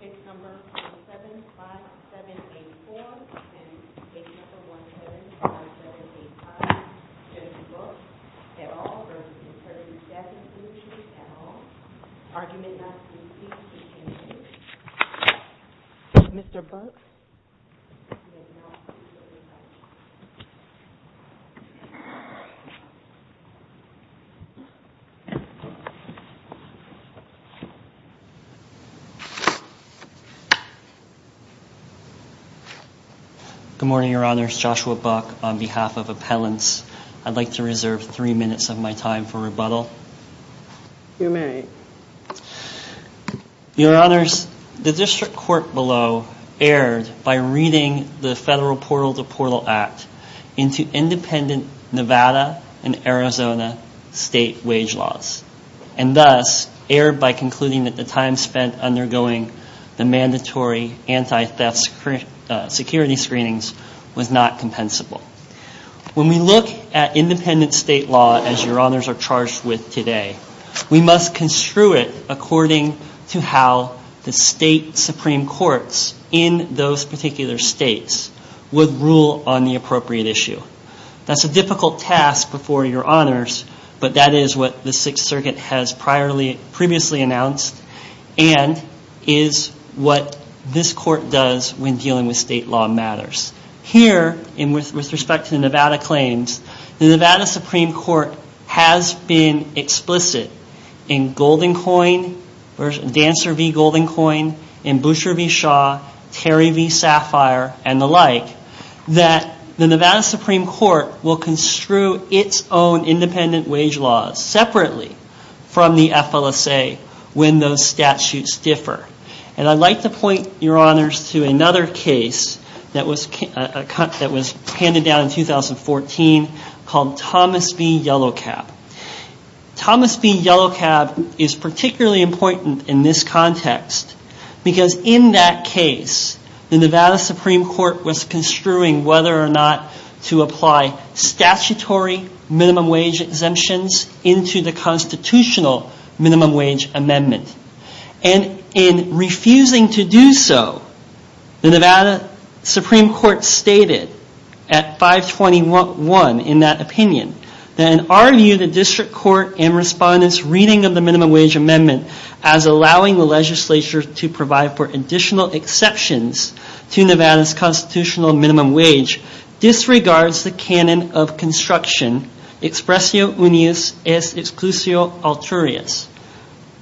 Page number 075784 and page number 175785 shows the book, et al, versus Integrity Staffing Solutions, et al, argument not to be used in this case. Mr. Busk? Good morning, Your Honors. Joshua Buck on behalf of Appellants. I'd like to reserve three minutes of my time for rebuttal. You may. Your Honors, the District Court below erred by reading the Federal Portal to Portal Act into independent Nevada and Arizona state wage laws. And thus, erred by concluding that the time spent undergoing the mandatory anti-theft security screenings was not compensable. When we look at independent state law as Your Honors are charged with today, we must construe it according to how the state Supreme Courts in those particular states would rule on the appropriate issue. That's a difficult task before Your Honors, but that is what the Sixth Circuit has previously announced and is what this Court does when dealing with state law matters. Here, with respect to Nevada claims, the Nevada Supreme Court has been explicit in GoldenCoin, Dancer v. GoldenCoin, and Busher v. Shaw, Terry v. Sapphire, and the like, that the Nevada Supreme Court will construe its own independent wage laws separately from the FLSA when those statutes differ. And I'd like to point Your Honors to another case that was handed down in 2014 called Thomas v. Yellow Cab. Thomas v. Yellow Cab is particularly important in this context because in that case, the Nevada Supreme Court was construing whether or not to apply statutory minimum wage exemptions into the constitutional minimum wage amendment. And in refusing to do so, the Nevada Supreme Court stated at 521 in that opinion, that in our view, the district court and respondents' reading of the minimum wage amendment as allowing the legislature to provide for additional exceptions to Nevada's constitutional minimum wage, disregards the canon of construction, expressio unius, es exclusio alturius.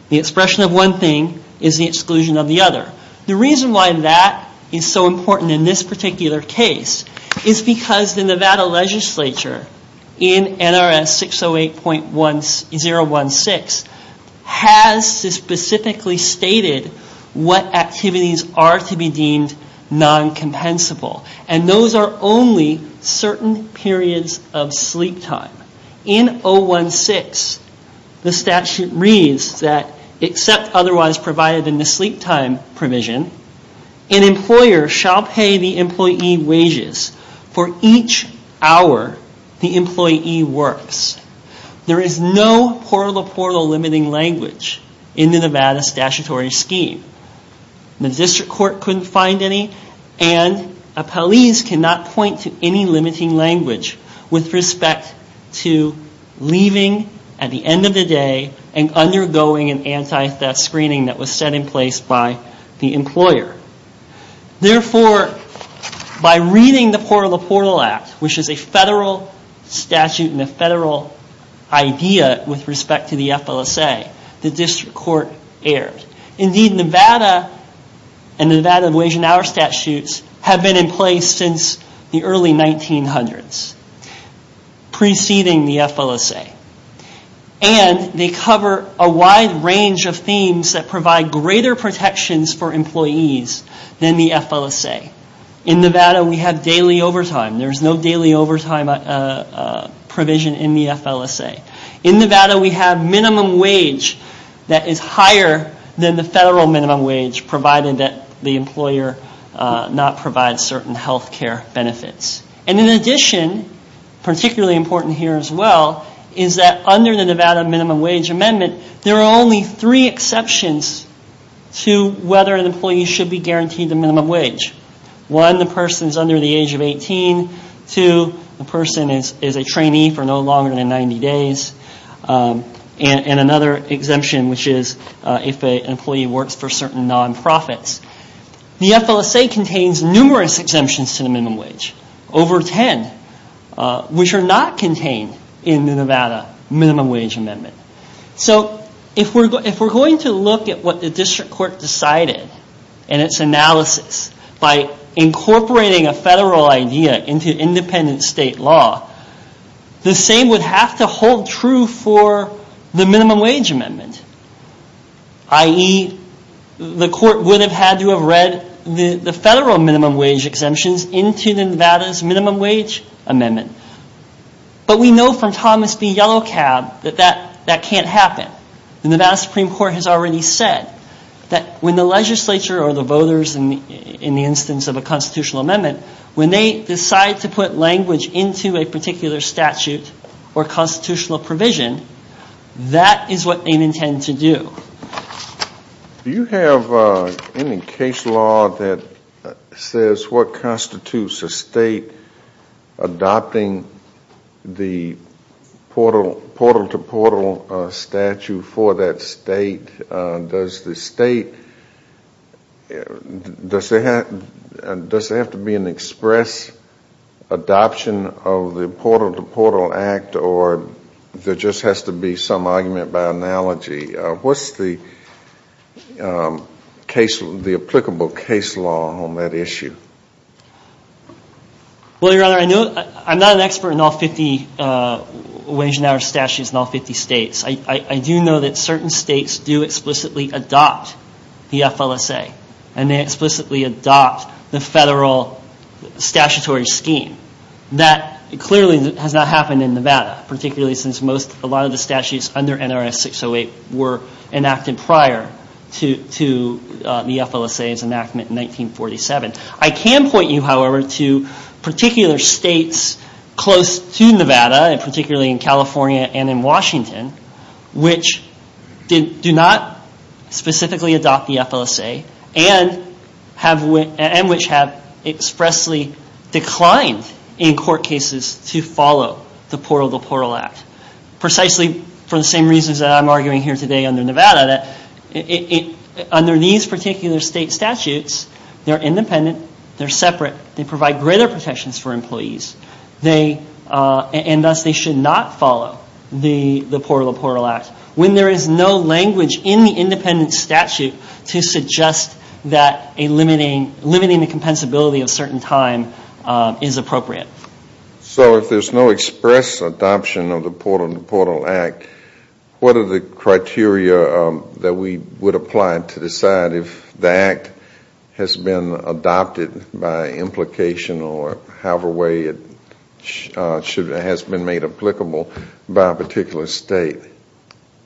The expression of one thing is the exclusion of the other. The reason why that is so important in this particular case is because the Nevada legislature in NRS 608.016 has specifically stated what activities are to be deemed non-compensable. And those are only certain periods of sleep time. In 016, the statute reads that except otherwise provided in the sleep time provision, an employer shall pay the employee wages for each hour the employee works. There is no portal-to-portal limiting language in the Nevada statutory scheme. The district court couldn't find any, and appellees cannot point to any limiting language with respect to leaving at the end of the day and undergoing an anti-theft screening that was set in place by the employer. Therefore, by reading the portal-to-portal act, which is a federal statute and a federal idea with respect to the FLSA, the district court erred. Indeed, Nevada and the Nevada wage and hour statutes have been in place since the early 1900s, preceding the FLSA. And they cover a wide range of themes that provide greater protections for employees than the FLSA. In Nevada, we have daily overtime. There is no daily overtime provision in the FLSA. In Nevada, we have minimum wage that is higher than the federal minimum wage, provided that the employer does not provide certain health care benefits. And in addition, particularly important here as well, is that under the Nevada minimum wage amendment, there are only three exceptions to whether an employee should be guaranteed the minimum wage. One, the person is under the age of 18. Two, the person is a trainee for no longer than 90 days. And another exemption, which is if an employee works for certain non-profits. The FLSA contains numerous exemptions to the minimum wage, over 10, which are not contained in the Nevada minimum wage amendment. If we're going to look at what the district court decided in its analysis by incorporating a federal idea into independent state law, the same would have to hold true for the minimum wage amendment. I.e., the court would have had to have read the federal minimum wage exemptions into Nevada's minimum wage amendment. But we know from Thomas B. Yellow Cab that that can't happen. And the Nevada Supreme Court has already said that when the legislature or the voters in the instance of a constitutional amendment, when they decide to put language into a particular statute or constitutional provision, that is what they intend to do. Do you have any case law that says what constitutes a state adopting the portal-to-portal statute for that state? Does the state, does there have to be an express adoption of the portal-to-portal act or there just has to be some argument by analogy? What's the applicable case law on that issue? Well, Your Honor, I'm not an expert in all 50 wage and hour statutes in all 50 states. I do know that certain states do explicitly adopt the FLSA and they explicitly adopt the federal statutory scheme. That clearly has not happened in Nevada, particularly since a lot of the statutes under NRS 608 were enacted prior to the FLSA's enactment in 1947. I can point you, however, to particular states close to Nevada, particularly in California and in Washington, which do not specifically adopt the FLSA and which have expressly declined in court cases to follow the portal-to-portal act. Precisely for the same reasons that I'm arguing here today under Nevada, that under these particular state statutes, they're independent, they're separate, they provide greater protections for employees, and thus they should not follow the portal-to-portal act when there is no language in the independent statute to suggest that limiting the compensability of certain time is appropriate. So if there's no express adoption of the portal-to-portal act, what are the criteria that we would apply to decide if the act has been adopted by implication or however way it has been made applicable by a particular state?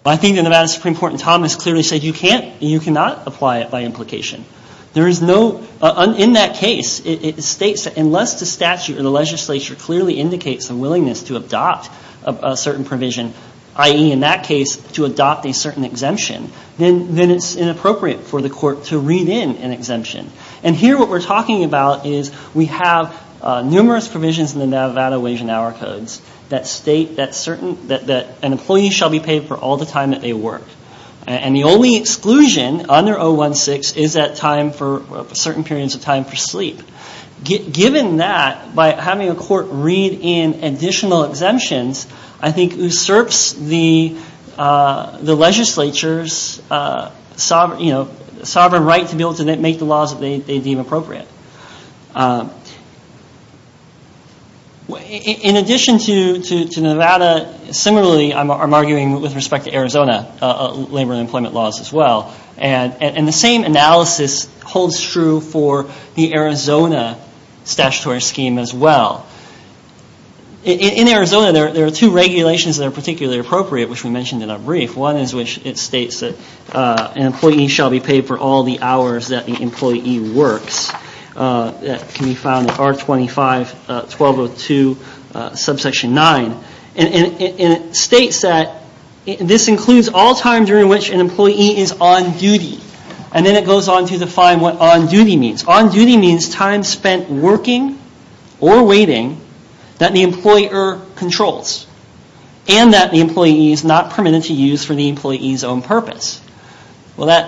I think the Nevada Supreme Court in Thomas clearly said you cannot apply it by implication. In that case, unless the statute or the legislature clearly indicates a willingness to adopt a certain provision, i.e., in that case, to adopt a certain exemption, then it's inappropriate for the court to read in an exemption. And here what we're talking about is we have numerous provisions in the Nevada Wage and Hour Codes that state that an employee shall be paid for all the time that they work. And the only exclusion under 016 is that time for certain periods of time for sleep. Given that, by having a court read in additional exemptions, I think usurps the legislature's sovereign right to be able to make the laws that they deem appropriate. In addition to Nevada, similarly, I'm arguing with respect to Arizona labor and employment laws as well. And the same analysis holds true for the Arizona statutory scheme as well. In Arizona, there are two regulations that are particularly appropriate, which we mentioned in our brief. One is which it states that an employee shall be paid for all the hours that the employee works. That can be found in R25 1202 subsection 9. And it states that this includes all time during which an employee is on duty. And then it goes on to define what on duty means. On duty means time spent working or waiting that the employer controls. And that the employee is not permitted to use for the employee's own purpose. Where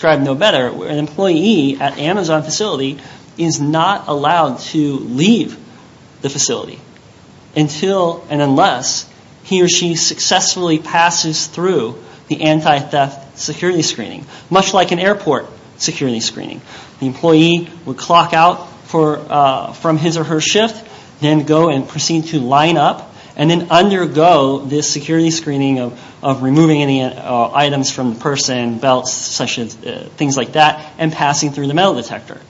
an employee at Amazon facility is not allowed to leave the facility until and unless he or she successfully passes through the anti-theft security screening, much like an airport security screening. The employee would clock out from his or her shift, then go and proceed to line up, and then undergo this security screening of removing any items from the person, belts, things like that, and passing through the metal detector.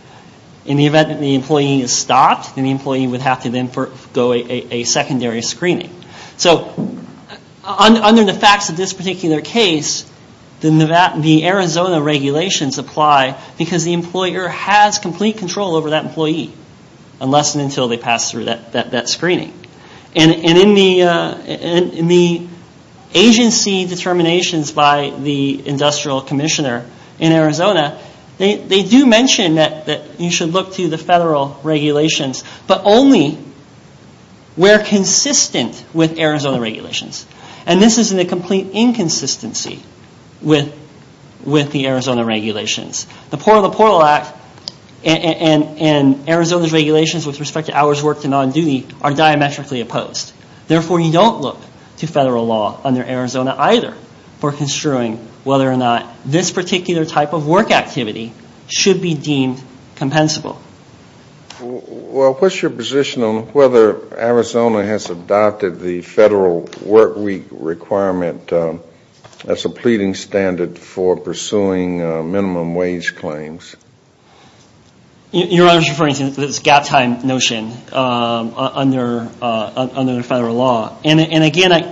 In the event that the employee is stopped, then the employee would have to go for a secondary screening. So under the facts of this particular case, the Arizona regulations apply because the employer has complete control over that employee, unless and until they pass through that screening. And in the agency determinations by the industrial commissioner in Arizona, they do mention that you should look to the federal regulations, but only where consistent with Arizona regulations. And this is in a complete inconsistency with the Arizona regulations. The Port of the Portal Act and Arizona's regulations with respect to hours worked and non-duty are diametrically opposed. Therefore, you don't look to federal law under Arizona either for construing whether or not this particular type of work activity should be deemed compensable. Well, what's your position on whether Arizona has adopted the federal work week requirement as a pleading standard for pursuing minimum wage claims? Your Honor is referring to this gap time notion under federal law. And again,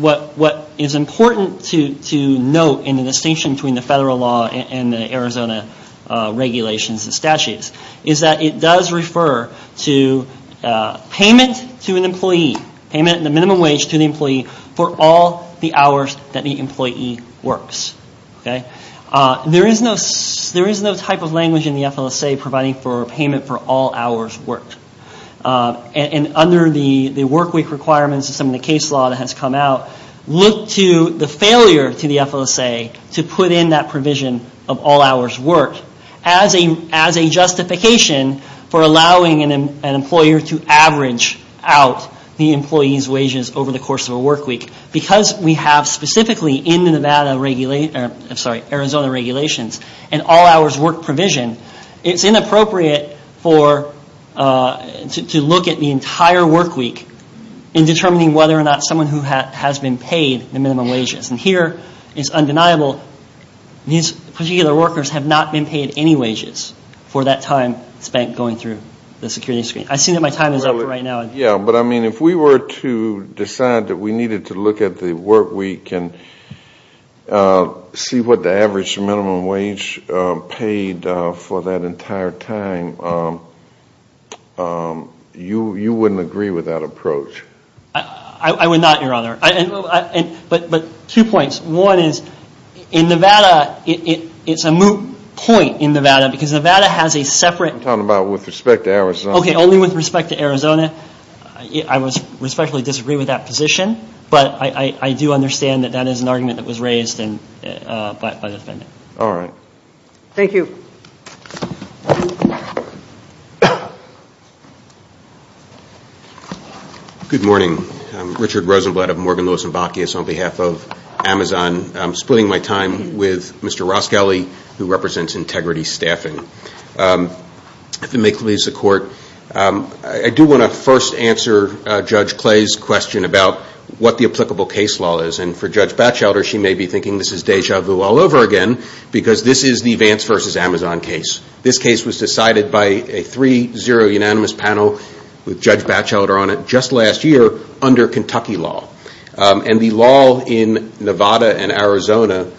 what is important to note in the distinction between the federal law and the Arizona regulations and statutes is that it does refer to payment to an employee, payment in the minimum wage to the employee for all the hours that the employee works. There is no type of language in the FLSA providing for payment for all hours worked. And under the work week requirements, some of the case law that has come out, look to the failure to the FLSA to put in that provision of all hours worked as a justification for allowing an employer to average out the employee's wages over the course of a work week. Because we have specifically in the Arizona regulations an all hours worked provision, it's inappropriate to look at the entire work week in determining whether or not someone has been paid the minimum wages. And here it's undeniable these particular workers have not been paid any wages for that time spent going through the security screen. I see that my time is up for right now. Yeah, but I mean if we were to decide that we needed to look at the work week and see what the average minimum wage paid for that entire time, you wouldn't agree with that approach. I would not, Your Honor. But two points. One is in Nevada, it's a moot point in Nevada because Nevada has a separate I'm talking about with respect to Arizona. Okay, only with respect to Arizona. I respectfully disagree with that position. But I do understand that that is an argument that was raised by the defendant. All right. Thank you. Good morning. I'm Richard Rosenblatt of Morgan, Lewis, and Bacchius on behalf of Amazon. I'm splitting my time with Mr. Roscali, who represents Integrity Staffing. I do want to first answer Judge Clay's question about what the applicable case law is. And for Judge Batchelder, she may be thinking this is deja vu all over again because this is the Vance v. Amazon case. This case was decided by a 3-0 unanimous panel with Judge Batchelder on it just last year under Kentucky law. And the law in Nevada and Arizona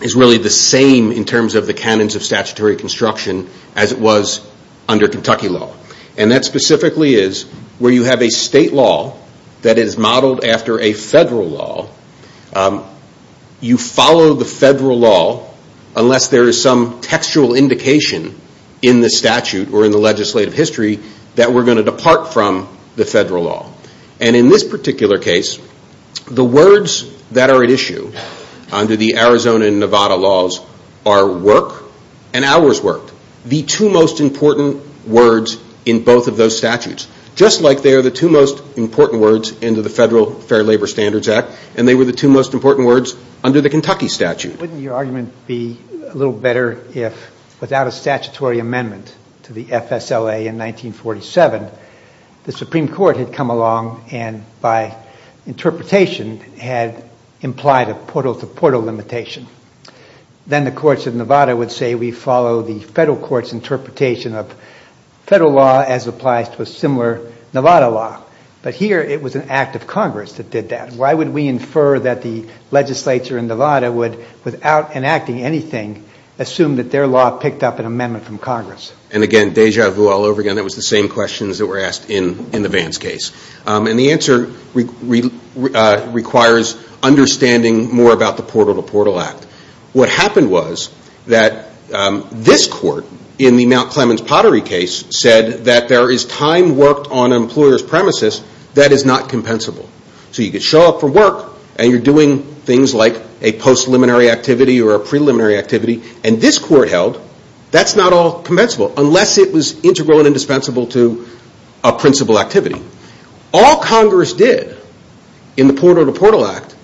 is really the same in terms of the canons of statutory construction as it was under Kentucky law. And that specifically is where you have a state law that is modeled after a federal law. You follow the federal law unless there is some textual indication in the statute or in the legislative history that we're going to depart from the federal law. And in this particular case, the words that are at issue under the Arizona and Nevada laws are work and hours worked. The two most important words in both of those statutes. Just like they are the two most important words in the Federal Fair Labor Standards Act and they were the two most important words under the Kentucky statute. Wouldn't your argument be a little better if without a statutory amendment to the FSLA in 1947, the Supreme Court had come along and by interpretation had implied a portal-to-portal limitation. Then the courts of Nevada would say we follow the federal court's interpretation of federal law as applies to a similar Nevada law. But here it was an act of Congress that did that. Why would we infer that the legislature in Nevada would, without enacting anything, assume that their law picked up an amendment from Congress? And again, deja vu all over again. That was the same questions that were asked in the Vance case. And the answer requires understanding more about the portal-to-portal act. What happened was that this court, in the Mount Clemens Pottery case, said that there is time worked on an employer's premises that is not compensable. So you could show up for work and you're doing things like a post-liminary activity or a preliminary activity and this court held that's not all compensable unless it was integral and indispensable to a principal activity. All Congress did in the portal-to-portal act,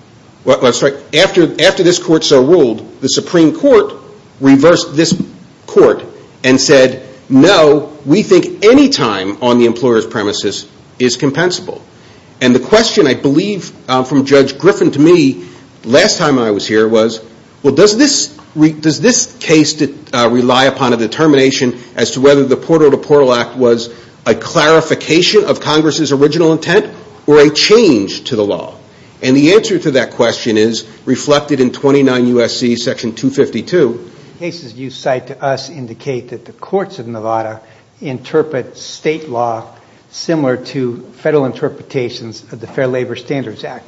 after this court so ruled, the Supreme Court reversed this court and said no, we think any time on the employer's premises is compensable. And the question, I believe, from Judge Griffin to me last time I was here was, well, does this case rely upon a determination as to whether the portal-to-portal act was a clarification of Congress's original intent or a change to the law? And the answer to that question is reflected in 29 U.S.C. section 252. The cases you cite to us indicate that the courts of Nevada interpret state law similar to federal interpretations of the Fair Labor Standards Act.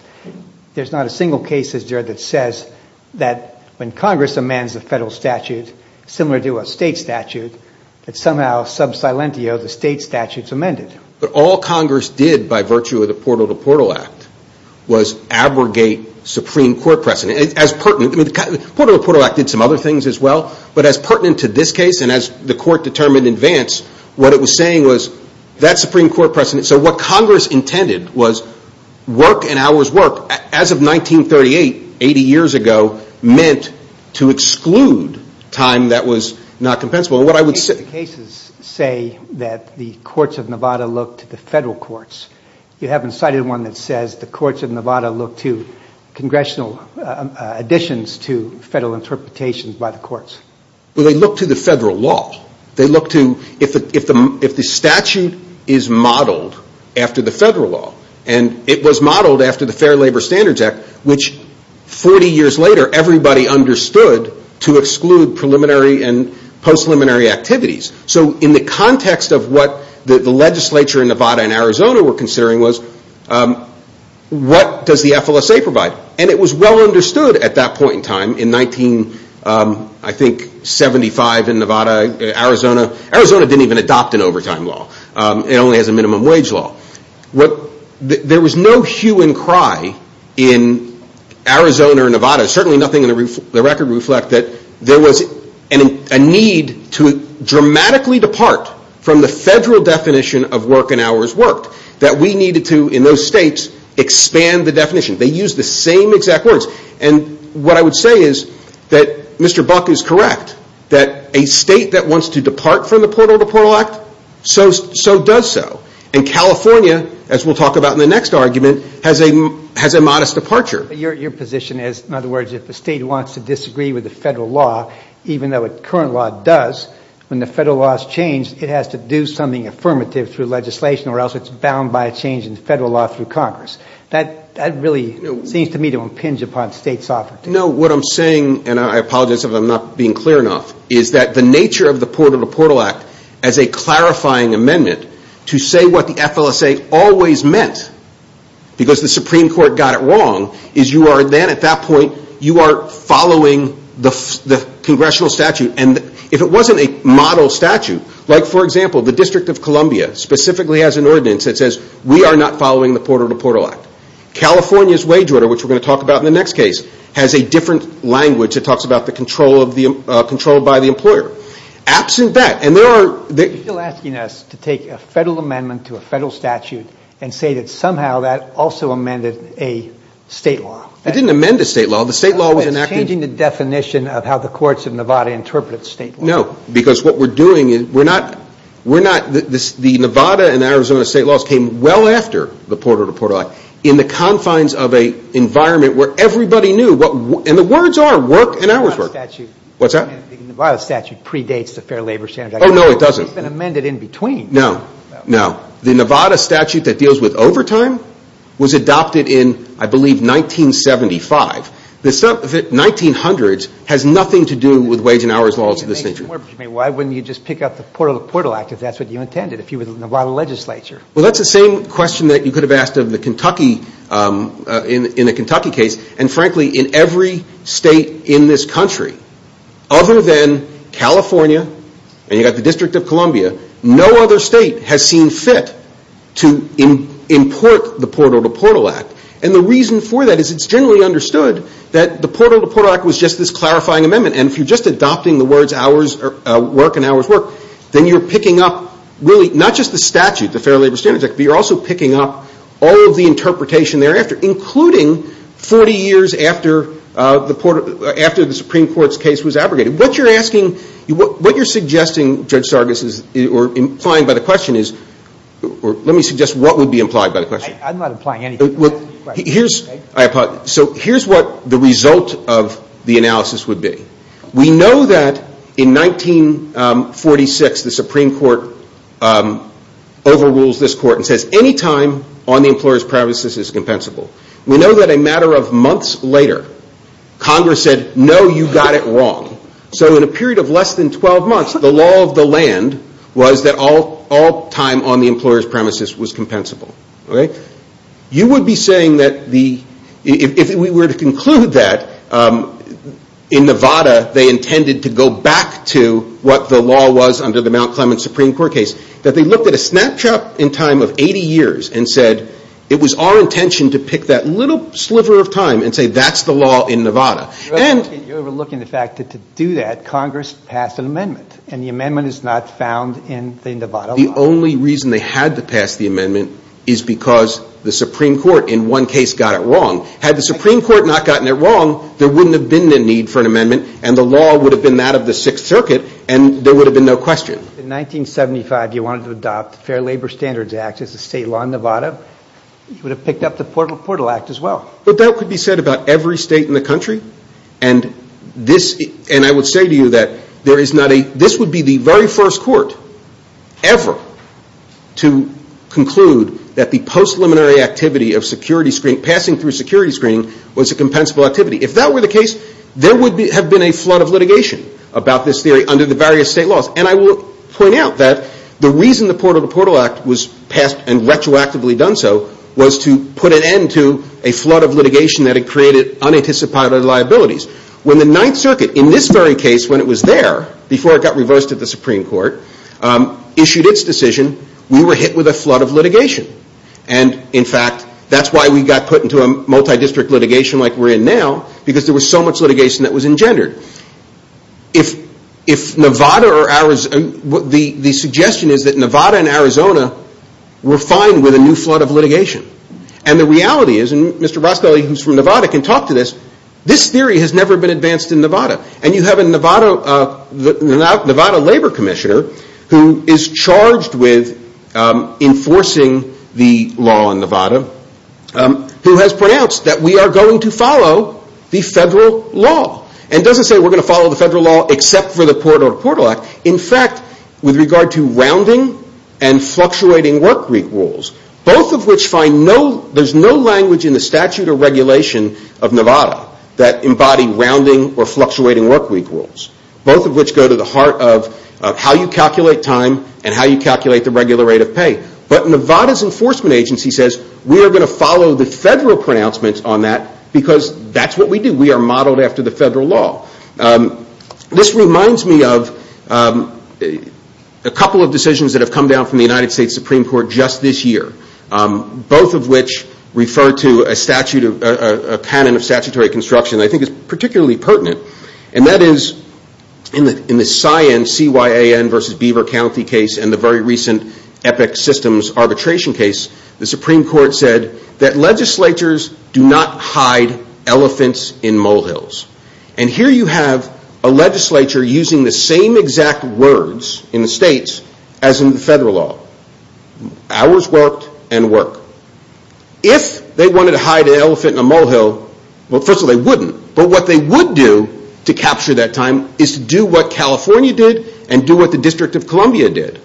There's not a single case that says that when Congress amends a federal statute similar to a state statute, that somehow sub silentio the state statute's amended. But all Congress did by virtue of the portal-to-portal act was abrogate Supreme Court precedent. The portal-to-portal act did some other things as well, but as pertinent to this case and as the court determined in advance, what it was saying was that Supreme Court precedent, so what Congress intended was work and hours work as of 1938, 80 years ago, meant to exclude time that was not compensable. The cases say that the courts of Nevada look to the federal courts. You haven't cited one that says the courts of Nevada look to congressional additions to federal interpretations by the courts. Well, they look to the federal law. They look to if the statute is modeled after the federal law, and it was modeled after the Fair Labor Standards Act, which 40 years later everybody understood to exclude preliminary and post-preliminary activities. So in the context of what the legislature in Nevada and Arizona were considering was what does the FLSA provide? And it was well understood at that point in time in 1975 in Nevada, Arizona. Arizona didn't even adopt an overtime law. It only has a minimum wage law. There was no hue and cry in Arizona or Nevada. Certainly nothing in the record reflect that there was a need to dramatically depart from the federal definition of work and hours worked, that we needed to, in those states, expand the definition. They used the same exact words. And what I would say is that Mr. Buck is correct, that a state that wants to depart from the Portal to Portal Act, so does so. And California, as we'll talk about in the next argument, has a modest departure. Your position is, in other words, if a state wants to disagree with the federal law, even though a current law does, when the federal law is changed, it has to do something affirmative through legislation or else it's bound by a change in federal law through Congress. That really seems to me to impinge upon states' authority. No, what I'm saying, and I apologize if I'm not being clear enough, is that the nature of the Portal to Portal Act as a clarifying amendment to say what the FLSA always meant, because the Supreme Court got it wrong, is you are then, at that point, you are following the congressional statute. And if it wasn't a model statute, like, for example, the District of Columbia specifically has an ordinance that says, we are not following the Portal to Portal Act. California's wage order, which we're going to talk about in the next case, has a different language. It talks about the control by the employer. Absent that, and there are... Are you still asking us to take a federal amendment to a federal statute and say that somehow that also amended a state law? It didn't amend a state law. The state law was enacted... It's changing the definition of how the courts of Nevada interpret state law. No, because what we're doing is we're not, we're not, the Nevada and Arizona state laws came well after the Portal to Portal Act in the confines of an environment where everybody knew what, and the words are, work and hours work. The Nevada statute... What's that? The Nevada statute predates the Fair Labor Standards Act. Oh, no, it doesn't. It's been amended in between. No, no. The Nevada statute that deals with overtime was adopted in, I believe, 1975. The 1900s has nothing to do with wage and hours laws of this nature. Why wouldn't you just pick up the Portal to Portal Act if that's what you intended, if you were the Nevada legislature? Well, that's the same question that you could have asked of the Kentucky, in the Kentucky case, and, frankly, in every state in this country, other than California, and you've got the District of Columbia, no other state has seen fit to import the Portal to Portal Act. And the reason for that is it's generally understood that the Portal to Portal Act was just this clarifying amendment, and if you're just adopting the words hours work and hours work, then you're picking up, really, not just the statute, the Fair Labor Standards Act, but you're also picking up all of the interpretation thereafter, including 40 years after the Supreme Court's case was abrogated. What you're asking, what you're suggesting, Judge Sargas, or implying by the question is, or let me suggest what would be implied by the question. I'm not implying anything. So here's what the result of the analysis would be. We know that in 1946, the Supreme Court overrules this court and says any time on the employer's premises is compensable. We know that a matter of months later, Congress said, no, you got it wrong. So in a period of less than 12 months, the law of the land was that all time on the employer's premises was compensable. You would be saying that the, if we were to conclude that in Nevada, they intended to go back to what the law was under the Mount Clements Supreme Court case, that they looked at a snapshot in time of 80 years and said, it was our intention to pick that little sliver of time and say that's the law in Nevada. You're overlooking the fact that to do that, Congress passed an amendment, and the amendment is not found in the Nevada law. The only reason they had to pass the amendment is because the Supreme Court in one case got it wrong. Had the Supreme Court not gotten it wrong, there wouldn't have been the need for an amendment, and the law would have been that of the Sixth Circuit, and there would have been no question. In 1975, you wanted to adopt the Fair Labor Standards Act as a state law in Nevada. You would have picked up the Portal Act as well. But that could be said about every state in the country, and this, and I would say to you that there is not a, this would be the very first court ever to conclude that the postliminary activity of security screening, passing through security screening, was a compensable activity. If that were the case, there would have been a flood of litigation about this theory under the various state laws. And I will point out that the reason the Portal to Portal Act was passed and retroactively done so was to put an end to a flood of litigation that had created unanticipated liabilities. When the Ninth Circuit, in this very case, when it was there, before it got reversed at the Supreme Court, issued its decision, we were hit with a flood of litigation. And, in fact, that's why we got put into a multi-district litigation like we're in now, because there was so much litigation that was engendered. If Nevada or Arizona, the suggestion is that Nevada and Arizona were fine with a new flood of litigation. And the reality is, and Mr. Rospelli, who's from Nevada, can talk to this, this theory has never been advanced in Nevada. And you have a Nevada labor commissioner who is charged with enforcing the law in Nevada who has pronounced that we are going to follow the federal law. And it doesn't say we're going to follow the federal law except for the Portal to Portal Act. In fact, with regard to rounding and fluctuating work week rules, both of which find no, there's no language in the statute or regulation of Nevada that embody rounding or fluctuating work week rules. Both of which go to the heart of how you calculate time and how you calculate the regular rate of pay. But Nevada's enforcement agency says we are going to follow the federal pronouncements on that because that's what we do. We are modeled after the federal law. This reminds me of a couple of decisions that have come down from the United States Supreme Court just this year. Both of which refer to a statute, a canon of statutory construction that I think is particularly pertinent. And that is in the CYAN versus Beaver County case and the very recent EPIC systems arbitration case, the Supreme Court said that legislatures do not hide elephants in molehills. And here you have a legislature using the same exact words in the states as in the federal law. Ours worked and work. If they wanted to hide an elephant in a molehill, well, first of all, they wouldn't. But what they would do to capture that time is to do what California did and do what the District of Columbia did.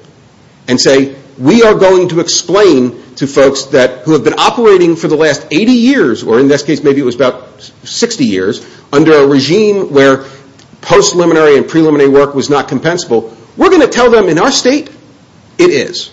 And say, we are going to explain to folks who have been operating for the last 80 years, or in this case, maybe it was about 60 years, under a regime where post-liminary and preliminary work was not compensable, we are going to tell them in our state, it is.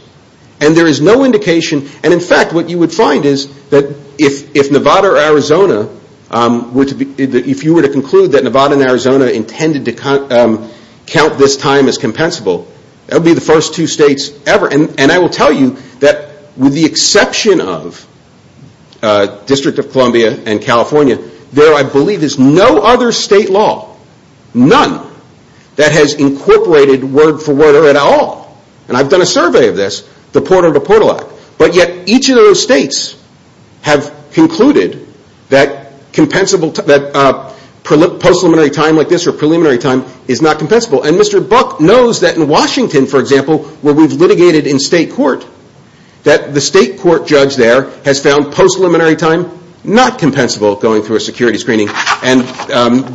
And there is no indication. And in fact, what you would find is that if Nevada or Arizona, if you were to conclude that Nevada and Arizona intended to count this time as compensable, that would be the first two states ever. And I will tell you that with the exception of District of Columbia and California, there, I believe, is no other state law, none, that has incorporated word-for-word at all. And I've done a survey of this, the Porter v. Portal Act. But yet each of those states have concluded that post-liminary time like this or preliminary time is not compensable. And Mr. Buck knows that in Washington, for example, where we've litigated in state court, that the state court judge there has found post-liminary time not compensable going through a security screening. And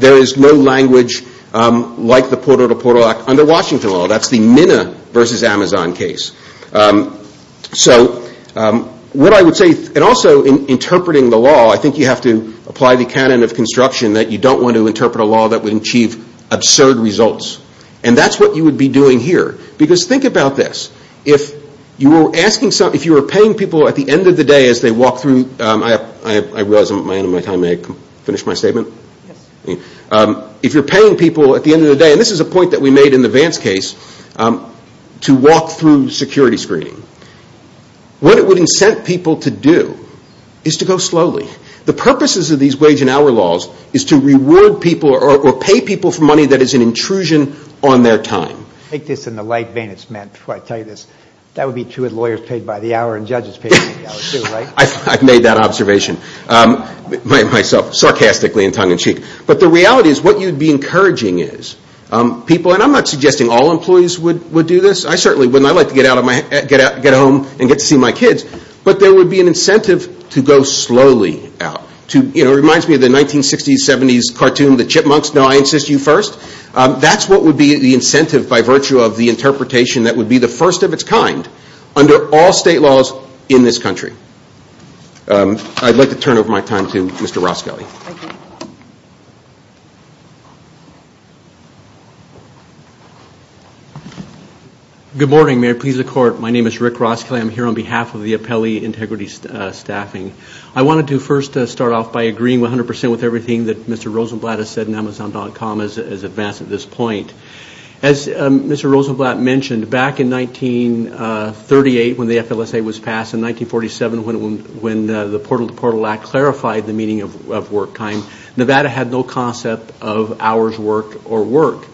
there is no language like the Porter v. Portal Act under Washington law. That's the Minna v. Amazon case. So what I would say, and also in interpreting the law, I think you have to apply the canon of construction that you don't want to interpret a law that would achieve absurd results. And that's what you would be doing here. Because think about this, if you were paying people at the end of the day as they walk through, I realize I'm at the end of my time, may I finish my statement? If you're paying people at the end of the day, and this is a point that we made in the Vance case, to walk through security screening, what it would incent people to do is to go slowly. The purposes of these wage and hour laws is to reward people or pay people for money that is an intrusion on their time. Take this in the light vein it's meant before I tell you this. That would be true of lawyers paid by the hour and judges paid by the hour too, right? I've made that observation myself, sarcastically and tongue-in-cheek. But the reality is what you'd be encouraging is people, and I'm not suggesting all employees would do this. I certainly wouldn't. I'd like to get home and get to see my kids. But there would be an incentive to go slowly out. It reminds me of the 1960s, 70s cartoon, The Chipmunks. No, I insist you first. That's what would be the incentive by virtue of the interpretation that would be the first of its kind under all state laws in this country. I'd like to turn over my time to Mr. Roskelley. Thank you. Good morning, Mayor. Please accord. My name is Rick Roskelley. I'm here on behalf of the Appellee Integrity Staffing. I wanted to first start off by agreeing 100% with everything that Mr. Rosenblatt has said in Amazon.com as advanced at this point. As Mr. Rosenblatt mentioned, back in 1938 when the FLSA was passed, in 1947 when the Portal to Portal Act clarified the meaning of work time, Nevada had no concept of hours worked or work.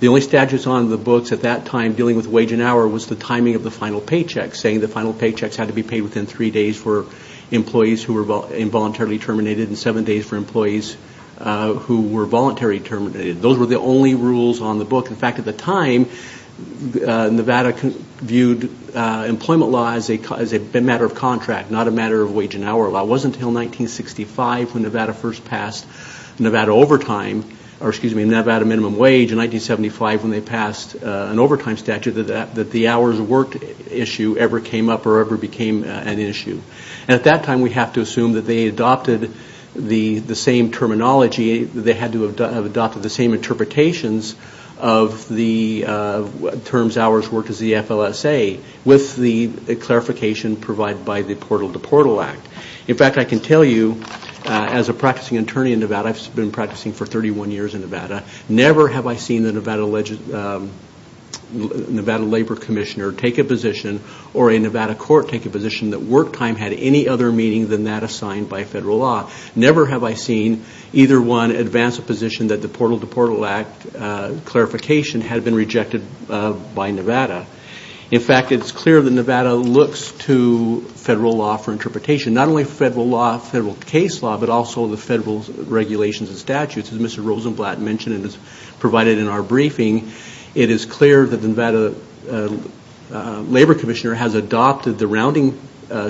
The only statutes on the books at that time dealing with wage and hour was the timing of the final paychecks, saying the final paychecks had to be paid within three days for employees who were involuntarily terminated and seven days for employees who were voluntarily terminated. Those were the only rules on the book. In fact, at the time, Nevada viewed employment law as a matter of contract, not a matter of wage and hour law. It wasn't until 1965 when Nevada first passed Nevada minimum wage and 1975 when they passed an overtime statute that the hours worked issue ever came up or ever became an issue. At that time, we have to assume that they adopted the same terminology, they had to have adopted the same interpretations of the terms hours worked as the FLSA with the clarification provided by the Portal to Portal Act. In fact, I can tell you as a practicing attorney in Nevada, I've been practicing for 31 years in Nevada, never have I seen the Nevada Labor Commissioner take a position or a Nevada court take a position that work time had any other meaning than that assigned by federal law. Never have I seen either one advance a position that the Portal to Portal Act clarification had been rejected by Nevada. In fact, it's clear that Nevada looks to federal law for interpretation, not only federal law, federal case law, as Mr. Rosenblatt mentioned and as provided in our briefing, it is clear that the Nevada Labor Commissioner has adopted the rounding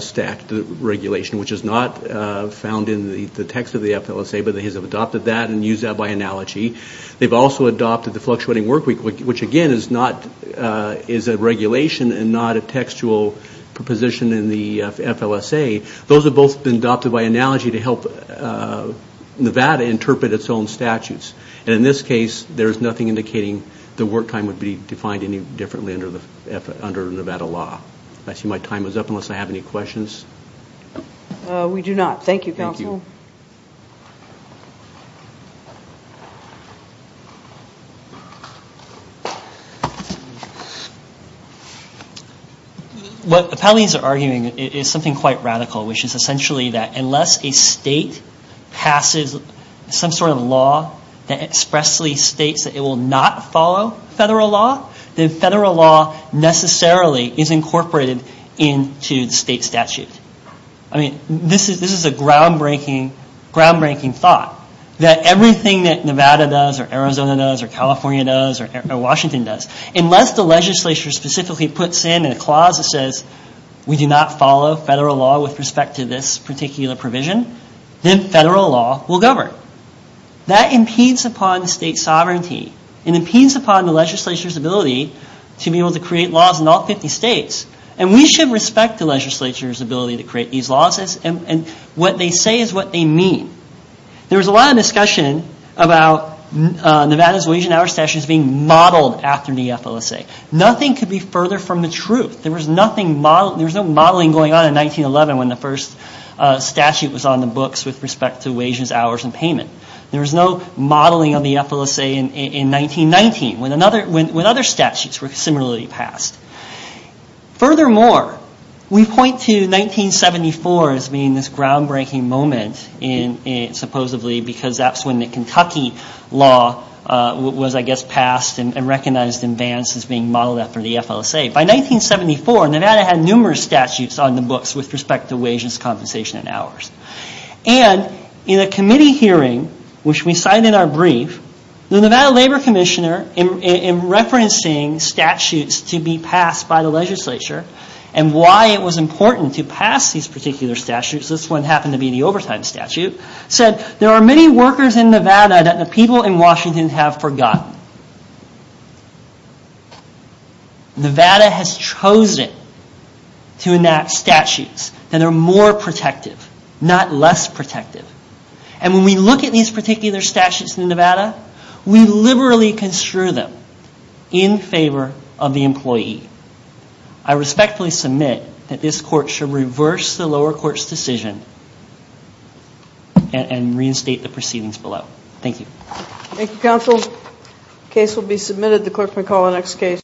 stack regulation, which is not found in the text of the FLSA, but they have adopted that and used that by analogy. They've also adopted the fluctuating work week, which again is a regulation and not a textual proposition in the FLSA. Those have both been adopted by analogy to help Nevada interpret its own statutes. And in this case, there is nothing indicating the work time would be defined any differently under Nevada law. I see my time is up unless I have any questions. Thank you. What the Palines are arguing is something quite radical, which is essentially that unless a state passes some sort of law that expressly states that it will not follow federal law, then federal law necessarily is incorporated into the state statute. I mean, this is a groundbreaking thought that everything that Nevada does or Arizona does or California does or Washington does, unless the legislature specifically puts in a clause that says we do not follow federal law with respect to this particular provision, then federal law will govern. That impedes upon the state's sovereignty. It impedes upon the legislature's ability to be able to create laws in all 50 states. And we should respect the legislature's ability to create these laws and what they say is what they mean. There was a lot of discussion about Nevada's wage and hour statutes being modeled after the FLSA. Nothing could be further from the truth. There was no modeling going on in 1911 when the first statute was on the books with respect to wages, hours and payment. There was no modeling of the FLSA in 1919 when other statutes were similarly passed. Furthermore, we point to 1974 as being this groundbreaking moment, supposedly because that's when the Kentucky law was, I guess, passed and recognized in advance as being modeled after the FLSA. By 1974, Nevada had numerous statutes on the books with respect to wages, compensation and hours. And in a committee hearing, which we cite in our brief, the Nevada Labor Commissioner, in referencing statutes to be passed by the legislature and why it was important to pass these particular statutes, this one happened to be the overtime statute, said there are many workers in Nevada that the people in Washington have forgotten. Nevada has chosen to enact statutes that are more protective, not less protective. And when we look at these particular statutes in Nevada, we liberally construe them in favor of the employee. I respectfully submit that this court should reverse the lower court's decision and reinstate the proceedings below. Thank you. Thank you, counsel. The case will be submitted. The clerk may call the next case.